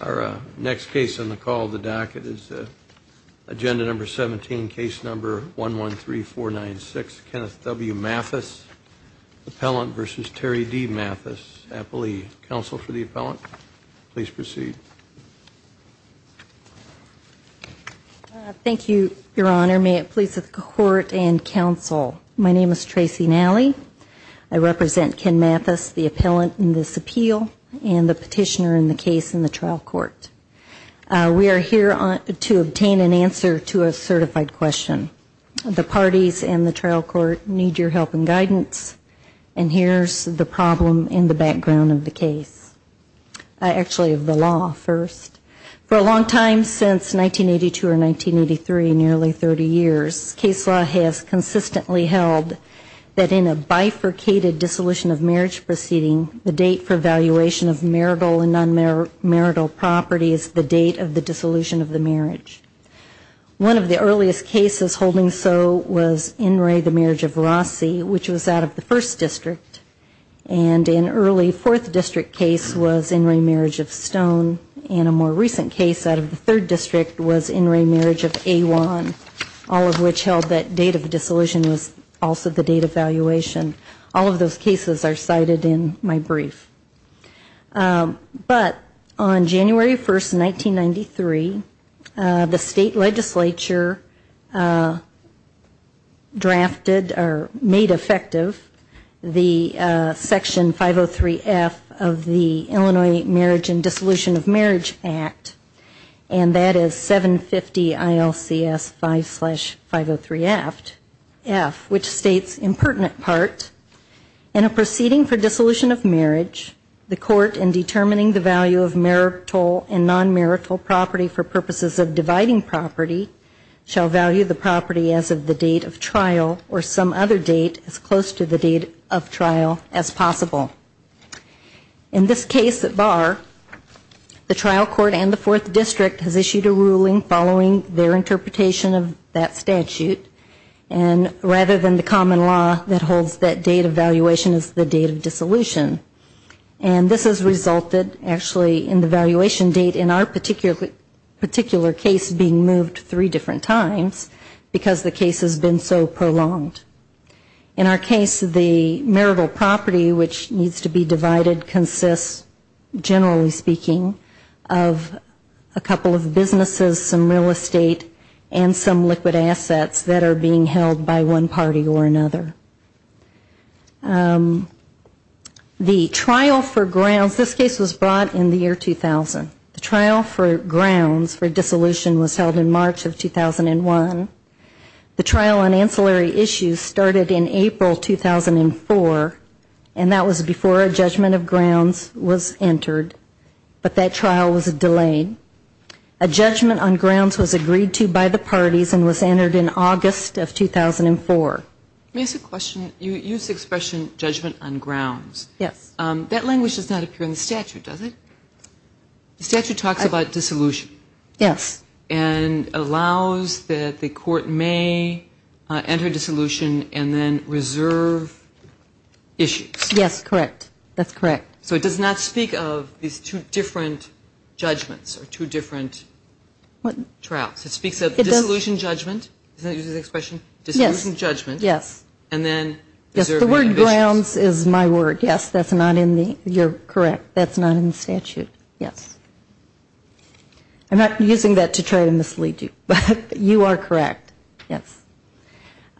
Our next case on the call of the docket is Agenda No. 17, Case No. 113496, Kenneth W. Mathis, Appellant v. Terry D. Mathis, Appellee. Counsel for the Appellant, please proceed. Thank you, Your Honor. May it please the Court and Counsel, my name is Tracy Nally. I represent Ken Mathis, the Appellant in this case in the trial court. We are here to obtain an answer to a certified question. The parties in the trial court need your help and guidance, and here's the problem in the background of the case. Actually, of the law first. For a long time, since 1982 or 1983, nearly 30 years, case law has consistently held that in a bifurcated dissolution of marriage or marital property is the date of the dissolution of the marriage. One of the earliest cases holding so was In Re, the Marriage of Rossi, which was out of the First District, and an early Fourth District case was In Re, Marriage of Stone, and a more recent case out of the Third District was In Re, Marriage of Awan, all of which held that date of dissolution was also the date of valuation. All of those cases are in my brief. But on January 1, 1993, the State Legislature drafted or made effective the Section 503F of the Illinois Marriage and Dissolution of Marriage Act, and that is 750 ILCS 5 slash 503F, which states, in pertinent part, in a proceeding for dissolution of marriage, the court, in determining the value of marital and non-marital property for purposes of dividing property, shall value the property as of the date of trial or some other date as close to the date of trial as possible. In this case at bar, the trial court and the Fourth District has issued a ruling following their interpretation of that statute, and rather than the common law that holds that date of valuation is the date of dissolution. And this has resulted, actually, in the valuation date in our particular case being moved three different times because the case has been so prolonged. In our case, the marital property, which needs to be divided, consists, generally speaking, of a couple of businesses, some real estate, and some liquid assets that are being held by one party or another. The trial for grounds, this case was brought in the year 2000. The trial for grounds for dissolution was held in March of 2001. The trial on ancillary issues started in April 2004, and that was before a judgment of grounds was entered, but that trial was delayed. A judgment on grounds was entered in August of 2004. Let me ask a question. You used the expression judgment on grounds. That language does not appear in the statute, does it? The statute talks about dissolution. Yes. And allows that the court may enter dissolution and then reserve issues. Yes, correct. That's correct. So it does not speak of these two different judgments or two different trials. It speaks of dissolution, judgment, and grounds. Dissolution, judgment. Does that use this expression? Yes. Dissolution, judgment. Yes. And then reserve. Yes, the word grounds is my word. Yes, that's not in the, you're correct, that's not in the statute. Yes. I'm not using that to try to mislead you, but you are correct. Yes.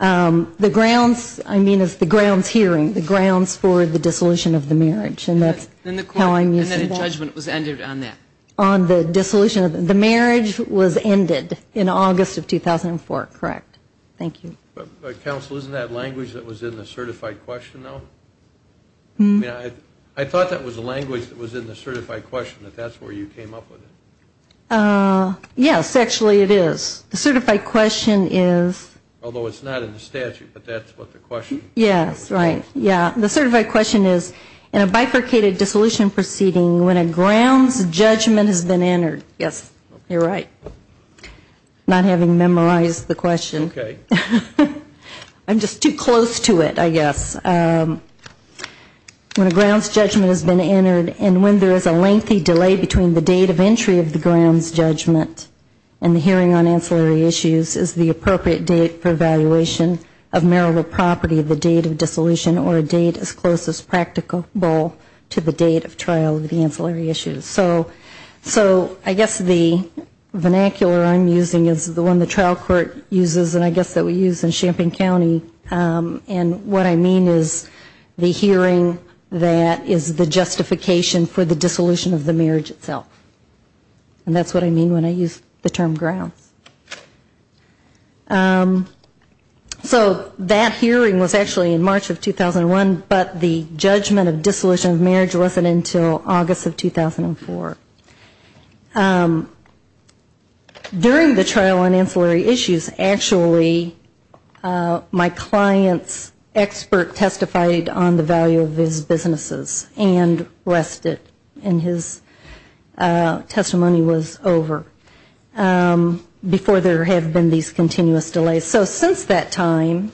The grounds, I mean, is the grounds hearing, the grounds for the dissolution of the marriage, and that's how I'm using that. And then the court, and then the judgment was ended on that? On the dissolution, the marriage was ended in August of 2004, correct? Thank you. But counsel, isn't that language that was in the certified question, though? I mean, I thought that was the language that was in the certified question, that that's where you came up with it. Yes, actually it is. The certified question is. Although it's not in the statute, but that's what the question is. Yes, right. Yeah. The certified question is, in a bifurcated dissolution proceeding, when a grounds judge or judge judgment has been entered, yes, you're right, not having memorized the question. Okay. I'm just too close to it, I guess. When a grounds judgment has been entered, and when there is a lengthy delay between the date of entry of the grounds judgment and the hearing on ancillary issues is the appropriate date for evaluation of marital property, the date of dissolution, or a date as close as practicable to the date of trial of the ancillary issues. So I guess the vernacular I'm using is the one the trial court uses, and I guess that we use in Champaign County, and what I mean is the hearing that is the justification for the dissolution of the marriage itself. And that's what I mean when I use the term grounds. So that hearing was actually in March of 2001, but the judgment of dissolution of marriage wasn't until August of 2004. During the trial on ancillary issues, actually, my client's expert testified on the value of his businesses and rested, and his testimony was over before there have been these continuous delays. So since that time,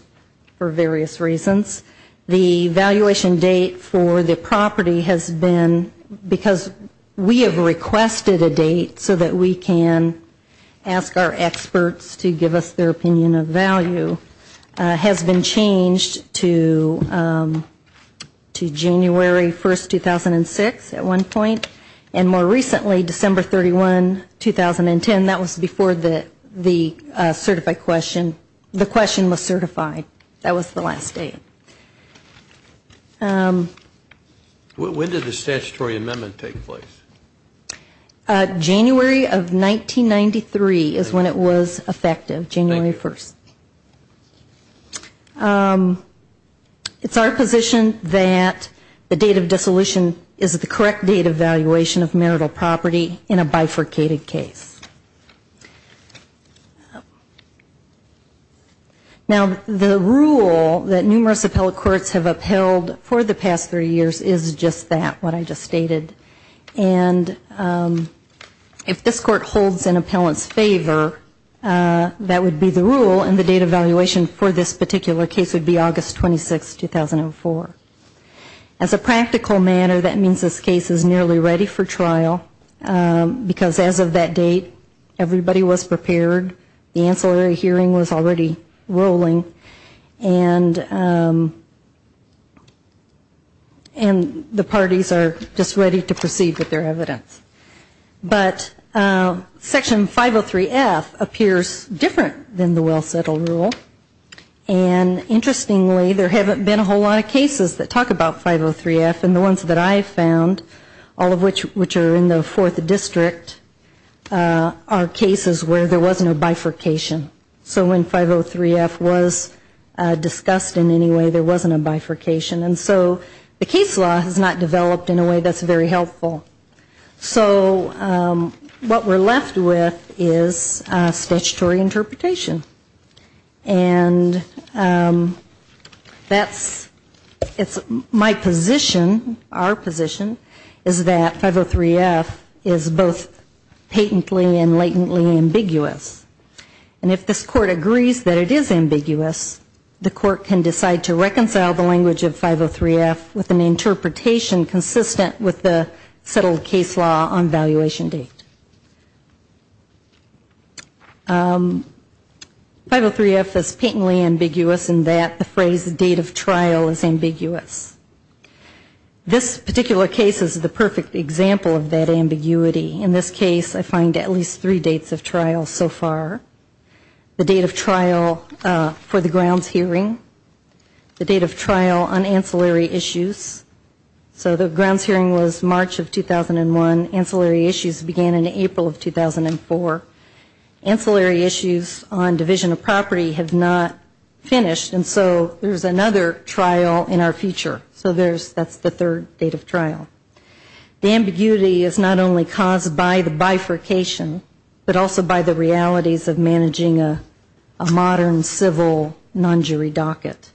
for various reasons, the evaluation date for the property has been, because we have requested a date so that we can ask our experts to give us their opinion of value, has been changed to January 1, 2006 at one point, and more recently, December 31, 2010. That was before the question was certified. That was the last date. When did the statutory amendment take place? January of 1993 is when it was effective, January 1. It's our position that the date of dissolution is the correct date of valuation of marital property in a bifurcated case. Now, the rule that numerous appellate courts have upheld for the past three years is just that, what I just stated. And if this court holds an appellant's favor, that would be the rule, and the date of valuation for this particular case would be August 26, 2004. As a practical matter, that means this case is nearly ready for trial, because as of that date, everybody was prepared, the ancillary hearing was already rolling, and the parties are just ready to proceed with their evidence. But Section 503F appears different than the well-settled rule. And interestingly, there haven't been a whole lot of cases that talk about 503F, and the ones that I found, all of which are in the fourth district, are cases where there wasn't a bifurcation. So when 503F was discussed in any way, there wasn't a bifurcation. And so the case law has not developed in a way that's very helpful. So what we're left with is statutory interpretation. And that's, it's my position, our position, is that 503F is both patently and latently ambiguous. And if this court agrees that it is ambiguous, the court can decide to reconcile the language of 503F with an interpretation consistent with the settled case law on valuation date. 503F is patently ambiguous in that the phrase date of trial is ambiguous. This particular case is the perfect example of that ambiguity. In this case, I find at least three dates of trial so far. The date of trial for the grounds hearing, the date of trial on ancillary issues. So the grounds hearing was March of 2001. Ancillary issues began in April of 2004. Ancillary issues on division of property have not finished. And so there's another trial in our future. So there's, that's the third date of trial. The ambiguity is not only caused by the bifurcation, but also by the realities of managing a modern civil non-jury docket.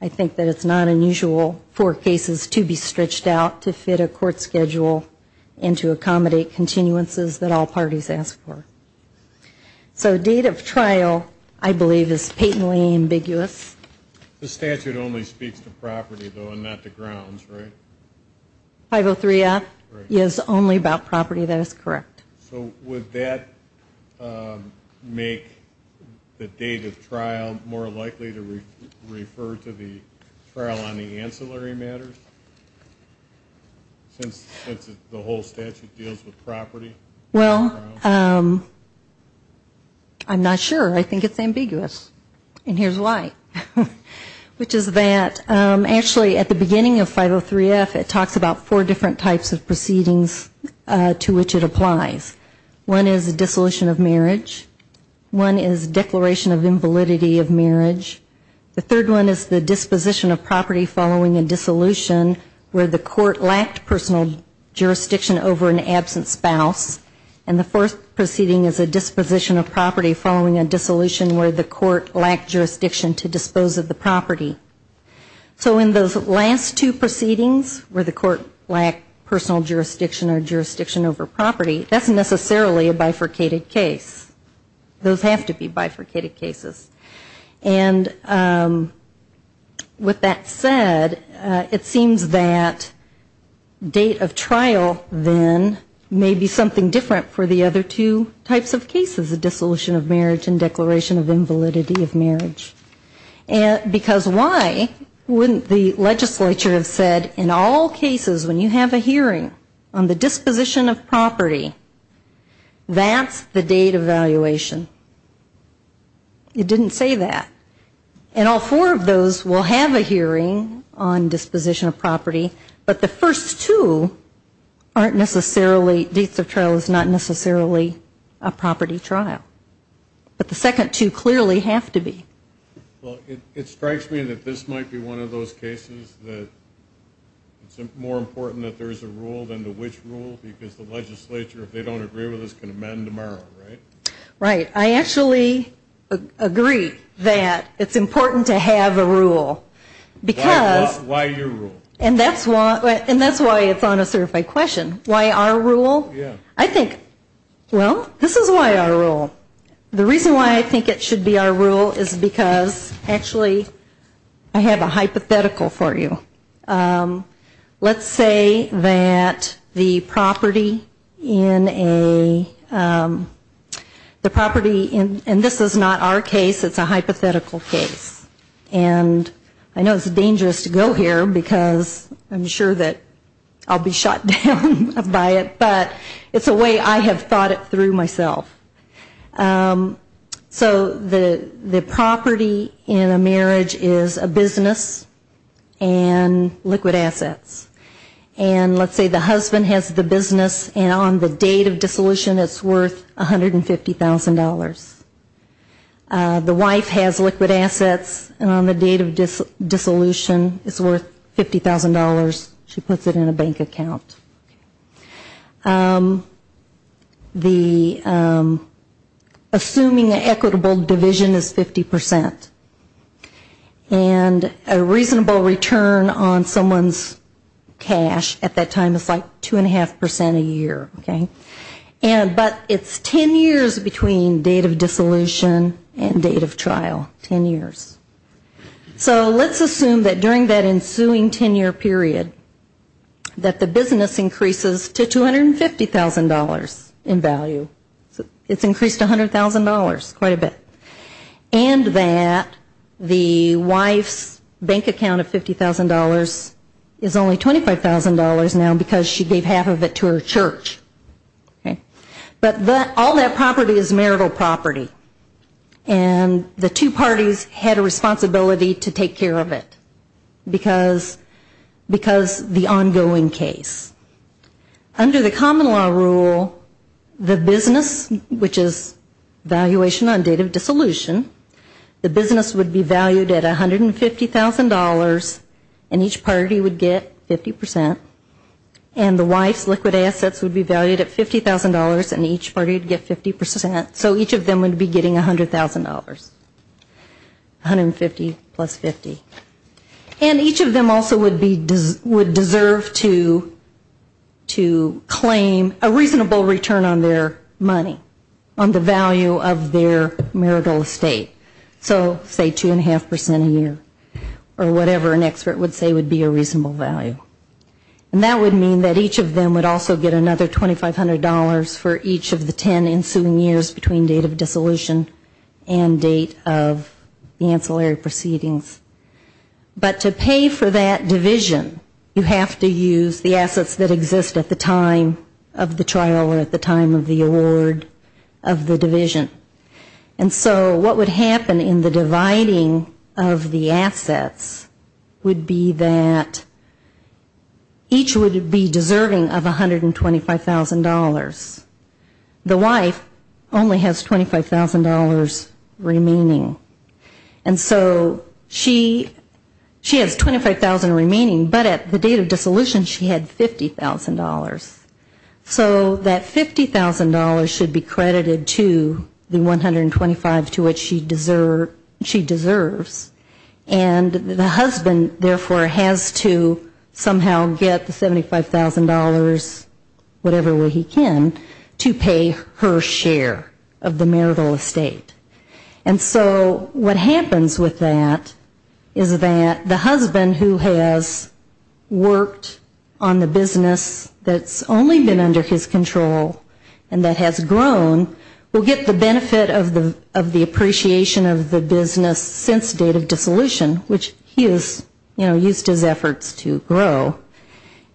I think that it's not unusual for cases to be stretched out to fit a court schedule and to accommodate continuances that all parties ask for. So date of trial, I believe, is patently ambiguous. The statute only speaks to property, though, and not to grounds, right? 503F is only about property, that is correct. So would that make the date of trial more likely to refer to the trial on the ancillary matters, since the whole statute deals with property? Well, I'm not sure. I think it's ambiguous. And here's why. Which is that actually at the beginning of 503F it talks about four different types of proceedings to which it applies. One is dissolution of marriage. One is declaration of invalidity of marriage. The third one is the disposition of property following a dissolution where the court lacked personal jurisdiction over an absent spouse. And the fourth proceeding is a disposition of property following a dissolution where the court lacked jurisdiction to dispose of the property. So in those last two proceedings where the court lacked personal jurisdiction or jurisdiction over property, that's necessarily a bifurcated case. Those have to be bifurcated cases. And with that said, it seems that date of trial, then, may be something to do with property. And it may be different for the other two types of cases, a dissolution of marriage and declaration of invalidity of marriage. Because why wouldn't the legislature have said in all cases when you have a hearing on the disposition of property, that's the date of evaluation? It didn't say that. And all four of those will have a hearing on disposition of property, but the first two aren't necessarily, dates of trial is not necessarily a property trial. But the second two clearly have to be. Well, it strikes me that this might be one of those cases that it's more important that there's a rule than the which rule, because the legislature, if they don't agree with us, can amend tomorrow, right? I actually agree that it's important to have a rule. Why your rule? And that's why it's on a certified question. Why our rule? I think, well, this is why our rule. The reason why I think it should be our rule is because, actually, I have a hypothetical for you. Let's say that the property in a, the property in, and this is not our case, it's a hypothetical case. And I know it's dangerous to go here, because I'm sure that I'll be shot down by it, but it's a way I have thought it through myself. So the property in a marriage is a business, and the property in a marriage is a business. It's liquid assets, and let's say the husband has the business, and on the date of dissolution, it's worth $150,000. The wife has liquid assets, and on the date of dissolution, it's worth $50,000. She puts it in a bank account. Assuming an equitable division is 50%, and a reasonable return on some of the assets is 50%. Someone's cash at that time is like 2.5% a year, okay? But it's 10 years between date of dissolution and date of trial, 10 years. So let's assume that during that ensuing 10-year period, that the business increases to $250,000 in value. It's increased to $100,000 quite a bit. And that the wife's bank account of $50,000 is only $25,000 now, because she gave half of it to her church. But all that property is marital property, and the two parties had a responsibility to take care of it, because the ongoing case. Under the common law rule, the business, which is valuation on date of dissolution, the business would be valued at $150,000, and each party would get 50%, and the wife's liquid assets would be valued at $50,000, and each party would get 50%. So each of them would be getting $100,000, 150 plus 50. And each of them also would deserve to claim a reasonable return on their money, on the value of their marital estate. So say 2.5% a year, or whatever an expert would say would be a reasonable value. And that would mean that each of them would also get another $2,500 for each of the 10 ensuing years between date of dissolution and date of the ancillary proceedings. But to pay for that division, you have to use the assets that exist at the time of the trial or at the time of the award of the division. And so what would happen in the dividing of the assets would be that each would be deserving of $125,000. The wife only has $25,000 remaining. And so she has $25,000 remaining, but at the date of dissolution she had $50,000. So that $50,000 should be credited to the $125,000 to which she deserves. And the husband, therefore, has to somehow get the $75,000, whatever way he can. To pay her share of the marital estate. And so what happens with that is that the husband who has worked on the business that's only been under his control and that has grown, will get the benefit of the appreciation of the business since date of dissolution, which he has used his efforts to grow.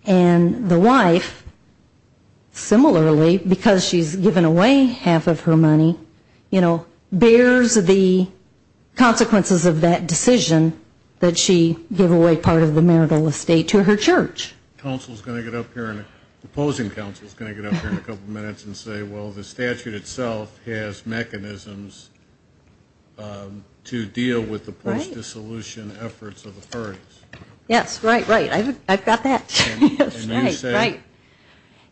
And the wife, similarly, because she's given away half of her money, you know, bears the consequences of that decision that she gave away part of the marital estate to her church. Opposing counsel is going to get up here in a couple minutes and say, well, the statute itself has mechanisms to deal with the post-dissolution efforts of the parties. Yes, right, right, I've got that.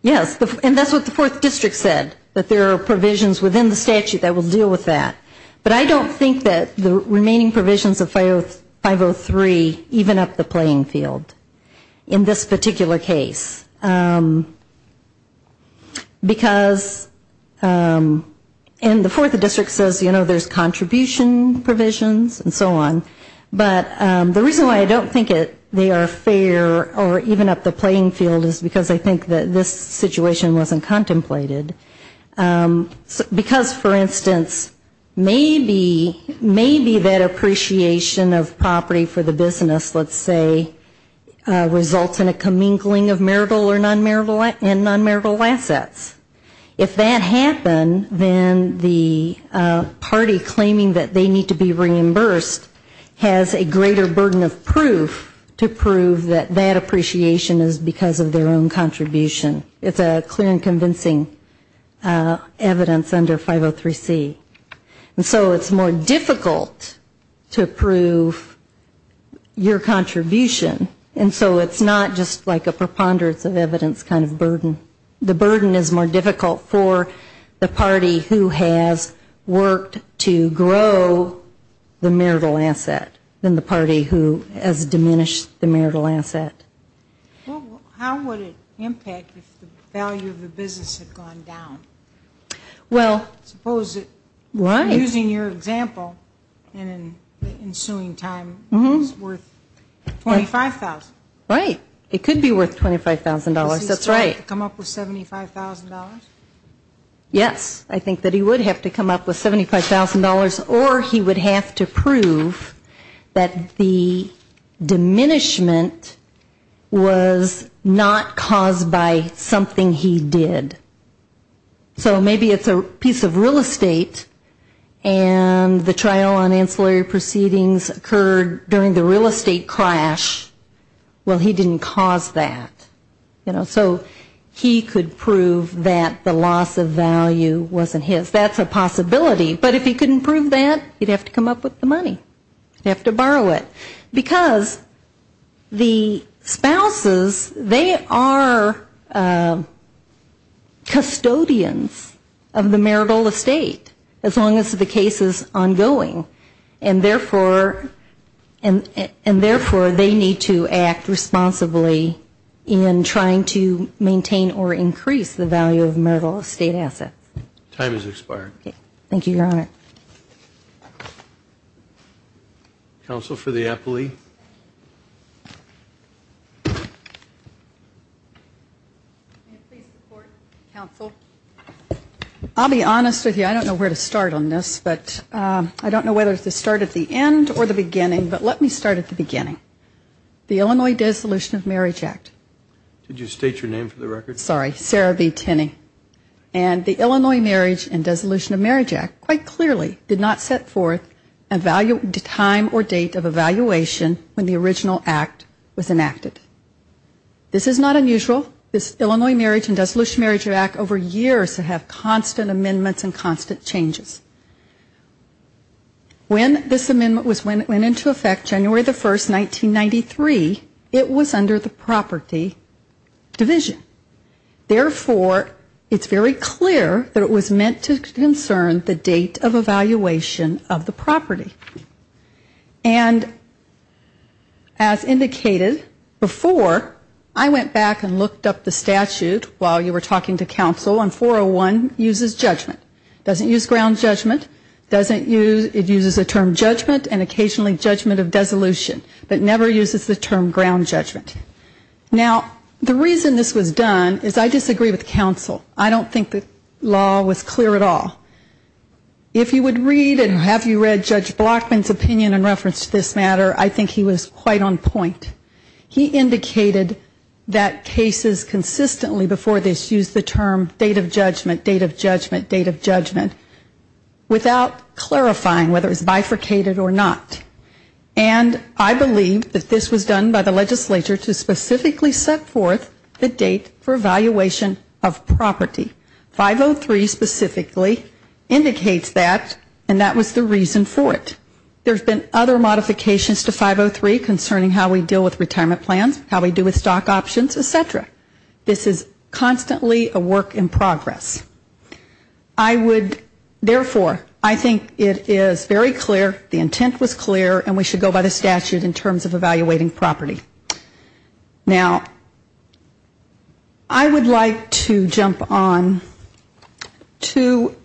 Yes, and that's what the 4th District said, that there are provisions within the statute that will deal with that. But I don't think that the remaining provisions of 503 even up the playing field in this particular case. Because, and the 4th District says, you know, there's contribution provisions and so on. But the reason why I don't think they are fair or even up the playing field is because I think that this situation wasn't contemplated. Because, for instance, maybe that appreciation of property for the business, let's say, results in a commingling of marital or nonmarital and nonmarital assets. If that happened, then the party claiming that they need to be reimbursed has a greater burden of proof to prove that that appreciation is because of their own contribution. It's a clear and convincing evidence under 503C. And so it's more difficult to prove your contribution. And so it's not just like a preponderance of evidence kind of burden. The burden is more difficult for the party who has worked to grow the marital asset than the party who has diminished the marital asset. Well, how would it impact if the value of the business had gone down? Well, why? Using your example and the ensuing time, it's worth $25,000. Right, it could be worth $25,000, that's right. Does he still have to come up with $75,000? Yes, I think that he would have to come up with $75,000 or he would have to prove that the diminishment was not caused by something he did. So maybe it's a piece of real estate and the trial on ancillary proceedings occurred during the real estate crash. Well, he didn't cause that. So he could prove that the loss of value wasn't his. That's a possibility, but if he couldn't prove that, he'd have to come up with the money. He'd have to borrow it. Because the spouses, they are custodians of the marital estate, as long as the case is ongoing. And therefore, they need to act responsibly in trying to maintain or increase the value of marital estate assets. Time is expired. Thank you, Your Honor. Counsel for the appellee. I'll be honest with you, I don't know where to start on this, but I don't know whether to start at the end or the beginning, but let me start at the beginning. The Illinois Dissolution of Marriage Act. Did you state your name for the record? Sorry, Sarah B. Tinney. And the Illinois Marriage and Dissolution of Marriage Act quite clearly did not set forth a time or date of evaluation when the original act was enacted. This is not unusual, this Illinois Marriage and Dissolution of Marriage Act over years to have constant amendments and constant changes. When this amendment went into effect January the 1st, 1993, it was under the property law. It was under the property division. Therefore, it's very clear that it was meant to concern the date of evaluation of the property. And as indicated before, I went back and looked up the statute while you were talking to counsel, and 401 uses judgment. It doesn't use ground judgment, it uses the term judgment and occasionally judgment of dissolution, but never uses the term ground judgment. Now, the reason this was done is I disagree with counsel. I don't think the law was clear at all. If you would read and have you read Judge Blockman's opinion in reference to this matter, I think he was quite on point. He indicated that cases consistently before this used the term date of judgment, date of judgment, date of judgment, without clarifying whether it was bifurcated or not. And I believe that this was done by the legislature to specifically set forth the date for evaluation of property. 503 specifically indicates that, and that was the reason for it. There's been other modifications to 503 concerning how we deal with retirement plans, how we deal with stock options, et cetera. This is constantly a work in progress. I would, therefore, I think it is very clear, the intent was clear, and we should go by the statute in terms of evaluating property. Now, I would like to jump on to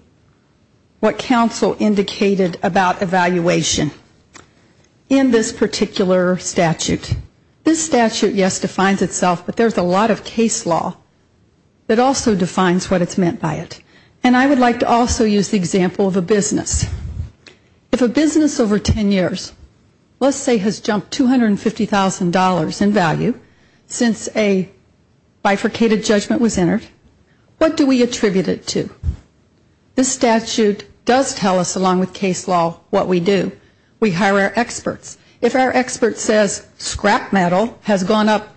what counsel indicated about evaluation in this particular statute. This statute, yes, defines itself, but there's a lot of case law that also defines what it's meant by. And I would like to also use the example of a business. If a business over 10 years, let's say has jumped $250,000 in value since a bifurcated judgment was entered, what do we attribute it to? This statute does tell us, along with case law, what we do. We hire our experts. If our expert says scrap metal has gone up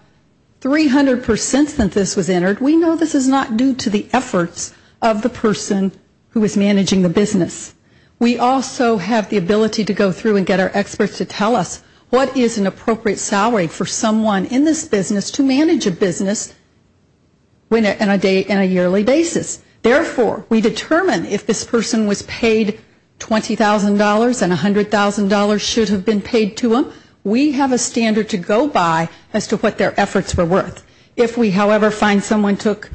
300% since this was entered, we know this is not due to the efforts of the person who is managing the business. We also have the ability to go through and get our experts to tell us what is an appropriate salary for someone in this business to manage a business on a yearly basis. Therefore, we determine if this person was paid $20,000 and $100,000 should have been paid to them. We have a standard to go by as to what their efforts were worth. If we, however, find someone took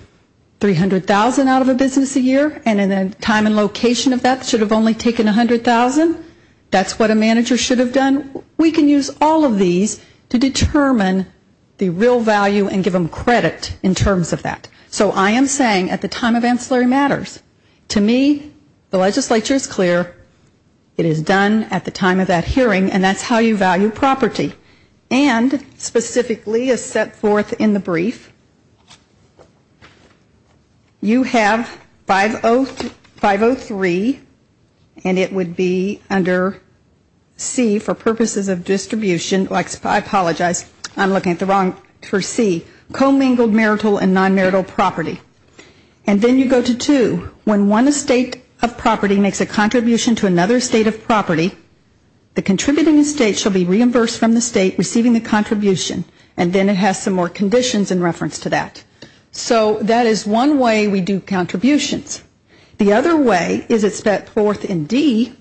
$300,000 out of a business a year and in the time and location of that should have only taken $100,000, that's what a manager should have done. We can use all of these to determine the real value and give them credit in terms of that. So I am saying at the time of ancillary matters, to me, the legislature is clear. It is done at the time of that hearing and that's how you value property. And specifically as set forth in the brief, you have 503 and it would be under C for purposes of distribution. I apologize, I am looking at the wrong, for C, co-mingled marital and non-marital property. And then you go to 2, when one estate of property makes a contribution to another estate of property, the contributing estate should be reimbursed from the state receiving the contribution and then it has some more conditions in reference to that. So that is one way we do contributions. The other way is it's set forth in D,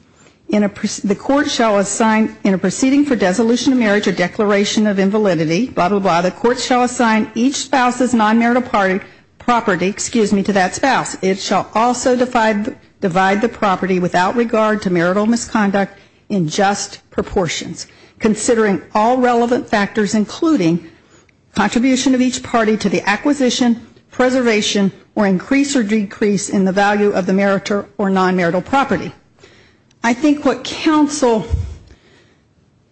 the court shall assign in a proceeding for dissolution of marriage or declaration of invalidity, blah, blah, blah, the court shall assign each spouse's non-marital property, excuse me, to that spouse. It shall also divide the property without regard to marital misconduct in just proportions, considering all relevant factors, including contribution of each party to the acquisition, preservation, or increase or decrease in the value of the marital or non-marital property. I think what counsel,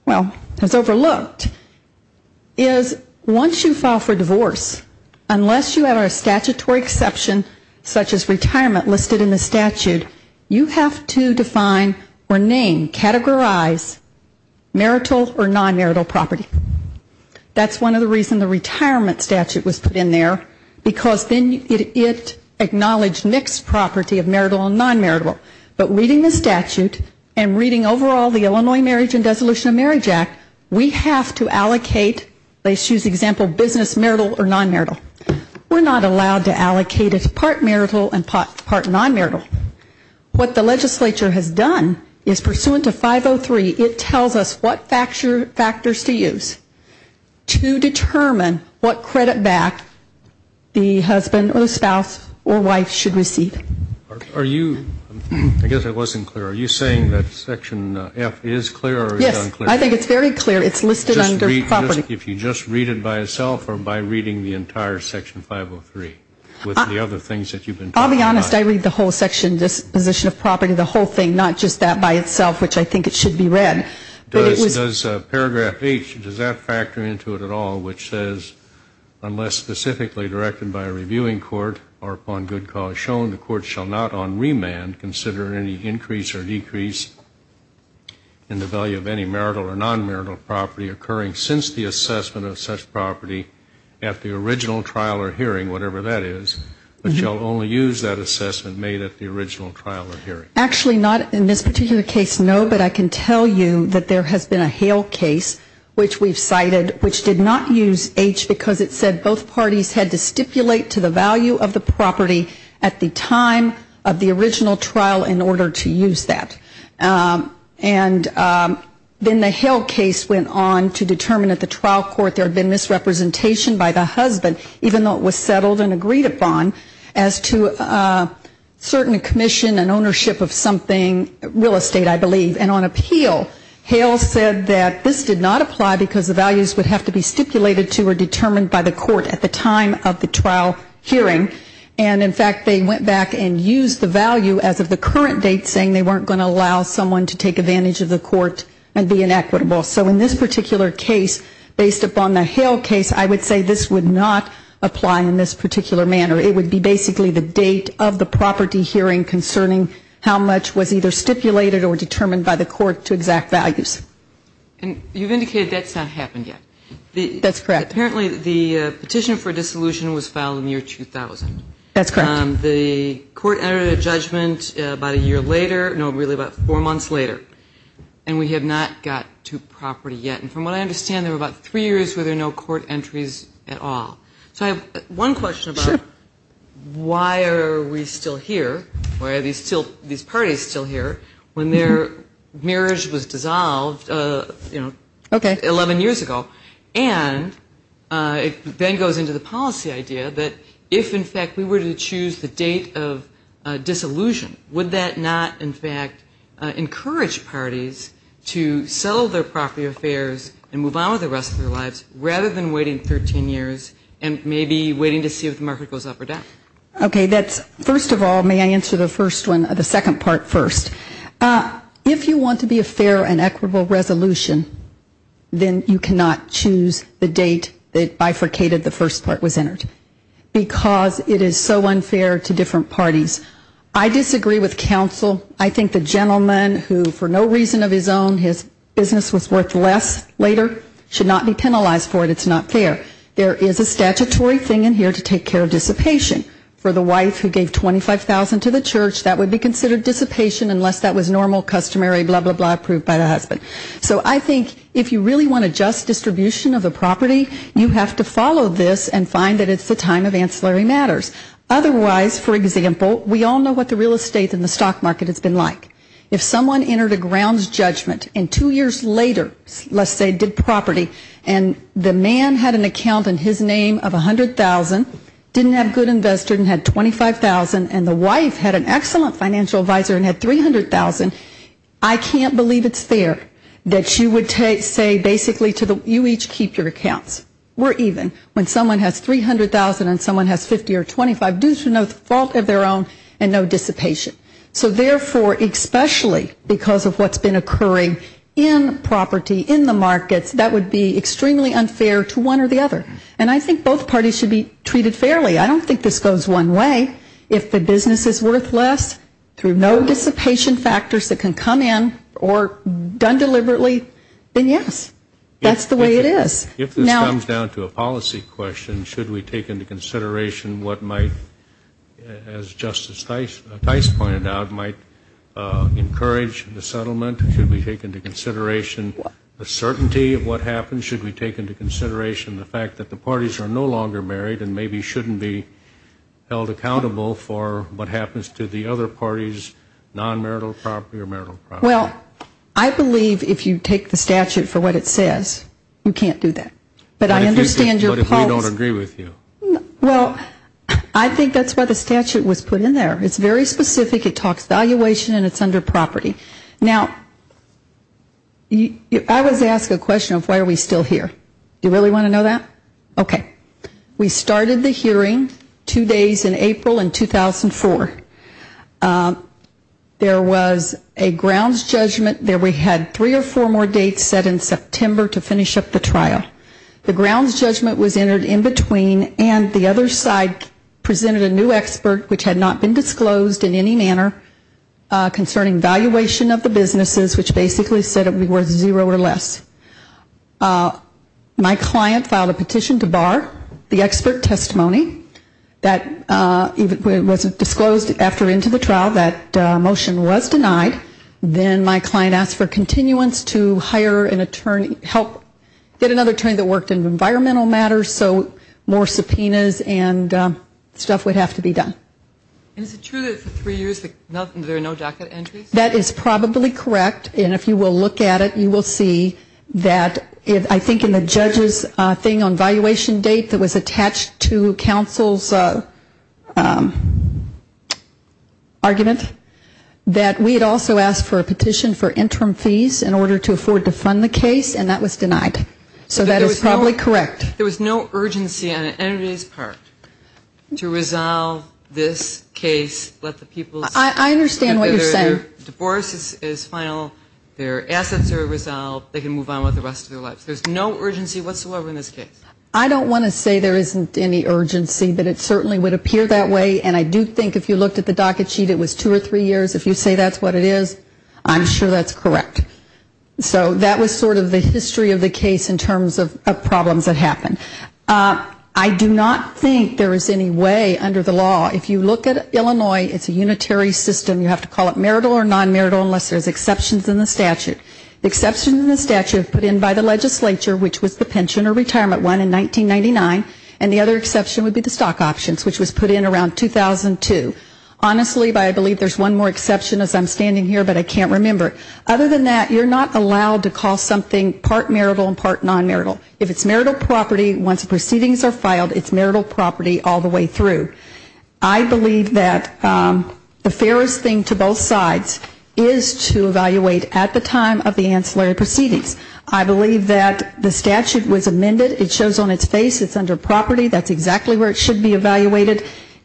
well, has overlooked, is once you file for marital or non-marital property, you have to make a decision. Once you file for divorce, unless you have a statutory exception such as retirement listed in the statute, you have to define or name, categorize marital or non-marital property. That's one of the reasons the retirement statute was put in there, because then it acknowledged mixed property of marital and non-marital. But reading the statute and reading overall the Illinois Marriage and Dissolution of Marriage Act, we have to allocate, let's use the example business, marital or non-marital. We're not allowed to allocate it to part marital and part non-marital. What the legislature has done is pursuant to 503, it tells us what factors to use to determine what credit back the husband or spouse or wife should receive. Are you, I guess I wasn't clear, are you saying that section F is clear or is it unclear? I think it's very clear. It's listed under property. If you just read it by itself or by reading the entire section 503 with the other things that you've been talking about? I'll be honest, I read the whole section, disposition of property, the whole thing, not just that by itself, which I think it should be read. Does paragraph H, does that factor into it at all, which says, unless specifically directed by a reviewing court or upon good cause shown, the court shall not on remand consider any increase or decrease in the value of any marital or non-marital property occurring since the assessment of such property at the original trial or hearing, whatever that is, but shall only use that assessment made at the original trial or hearing. Actually not in this particular case, no, but I can tell you that there has been a Hale case, which we've cited, which did not use H because it said both parties had to stipulate to the value of the property at the time of the original trial or hearing. The Hale case went on to determine at the trial court there had been misrepresentation by the husband, even though it was settled and agreed upon, as to certain commission and ownership of something, real estate I believe, and on appeal, Hale said that this did not apply because the values would have to be stipulated to or determined by the court at the time of the trial hearing, and in fact, they went back and used the value as of the current date, saying they weren't going to allow someone to take advantage of the court and be inequitable. So in this particular case, based upon the Hale case, I would say this would not apply in this particular manner. It would be basically the date of the property hearing concerning how much was either stipulated or determined by the court to exact values. And you've indicated that's not happened yet. That's correct. Apparently, the petition for dissolution was filed in the year 2000. That's correct. The court entered a judgment about a year later, no, really about four months later, and we have not got to property yet. And from what I understand, there were about three years where there were no court entries at all. Sure. So I have one question about why are we still here, why are these parties still here, when their marriage was dissolved, you know, 11 years ago, and it then goes into the policy idea that if, in fact, we were to choose the date of dissolution, would that not, in fact, encourage parties to settle their property affairs and move on with the rest of their lives, rather than waiting 13 years and maybe waiting to see if the market goes up or down? Okay, that's, first of all, may I answer the first one, the second part first? If you want to be a fair and equitable resolution, then you cannot choose the date that bifurcated the first part was entered, because it is so unfair to different parties. I disagree with counsel. I think the gentleman who, for no reason of his own, his business was worth less later should not be penalized for it. It's not fair. There is a statutory thing in here to take care of dissipation. For the wife who gave $25,000 to the church, that would be considered dissipation unless that was normal, customary, blah, blah, blah, approved by the husband. So I think if you really want to just distribute the property, you have to follow this and find that it's the time of ancillary matters. Otherwise, for example, we all know what the real estate and the stock market has been like. If someone entered a grounds judgment and two years later, let's say, did property, and the man had an account in his name of $100,000, didn't have good investors and had $25,000, and the wife had an excellent financial advisor and had $300,000, I can't believe it's fair that you would say, basically, to the, you each keep your accounts. We're even. When someone has $300,000 and someone has $50,000 or $25,000, due to no fault of their own and no dissipation. So therefore, especially because of what's been occurring in property, in the markets, that would be extremely unfair to one or the other. And I think both parties should be treated fairly. I don't think this goes one way. If the business is worth less through no dissipation factors that can come in or done deliberately, then yes, that's the way it is. If this comes down to a policy question, should we take into consideration what might, as Justice Tice pointed out, might encourage the settlement? Should we take into consideration the certainty of what happens? Should we take into consideration the fact that the parties are no longer married and maybe shouldn't be held accountable for what happens to the other parties' non-marital property or marital property? Well, I believe if you take the statute for what it says, you can't do that. But I understand your pulse. But if we don't agree with you? Well, I think that's why the statute was put in there. It's very specific. It talks valuation and it's under property. Now, I was asked a question of why are we still here. Do you really want to know that? Okay. We started the hearing two days in April in 2004. There was a grounds judgment where we had three or four more dates set in September to finish up the trial. The grounds judgment was entered in between and the other side presented a new expert which had not been disclosed in any manner concerning valuation of the businesses, which basically said it would be worth zero or less. My client filed a petition to bar the expert testimony that wasn't disclosed after into the trial. That motion wasn't passed. It was denied. Then my client asked for continuance to hire an attorney, help get another attorney that worked in environmental matters so more subpoenas and stuff would have to be done. And is it true that for three years there are no docket entries? That is probably correct. And if you will look at it, you will see that I think in the judge's thing on valuation date that was attached to the case. And we had also asked for a petition for interim fees in order to afford to fund the case and that was denied. So that is probably correct. There was no urgency on anybody's part to resolve this case, let the people see that their divorce is final, their assets are resolved, they can move on with the rest of their lives. There's no urgency whatsoever in this case. I don't want to say there isn't any urgency, but it certainly would appear that way. And I do think if you looked at the docket sheet, it was pretty clear what it is. I'm sure that's correct. So that was sort of the history of the case in terms of problems that happened. I do not think there is any way under the law, if you look at Illinois, it's a unitary system. You have to call it marital or non-marital unless there's exceptions in the statute. The exception in the statute put in by the legislature, which was the pension or retirement one in 1999, and the other exception would be the stock options, which was put in around 2002. Honestly, I believe there's one more exception as I'm standing here, but I can't remember. Other than that, you're not allowed to call something part marital and part non-marital. If it's marital property, once the proceedings are filed, it's marital property all the way through. I believe that the fairest thing to both sides is to evaluate at the time of the ancillary proceedings. I believe that the statute was amended. It shows on its face it's under property. That's exactly where it should be evaluated.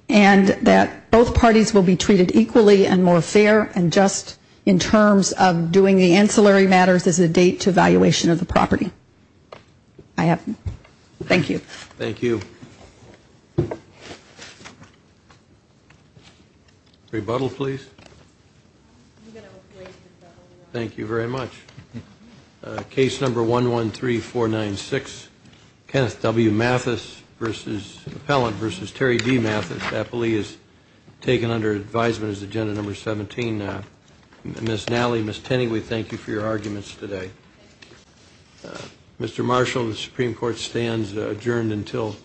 And that both sides will be treated equally and more fair and just in terms of doing the ancillary matters as a date to evaluation of the property. Thank you. Rebuttal, please. Case number 113496, Kenneth W. Mathis v. Appellant v. Terry D. Mathis. I believe it's 113496. Taken under advisement as agenda number 17. Ms. Nally, Ms. Tenney, we thank you for your arguments today. Mr. Marshall, the Supreme Court stands adjourned until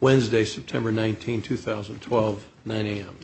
Wednesday, September 19, 2012, 9 a.m.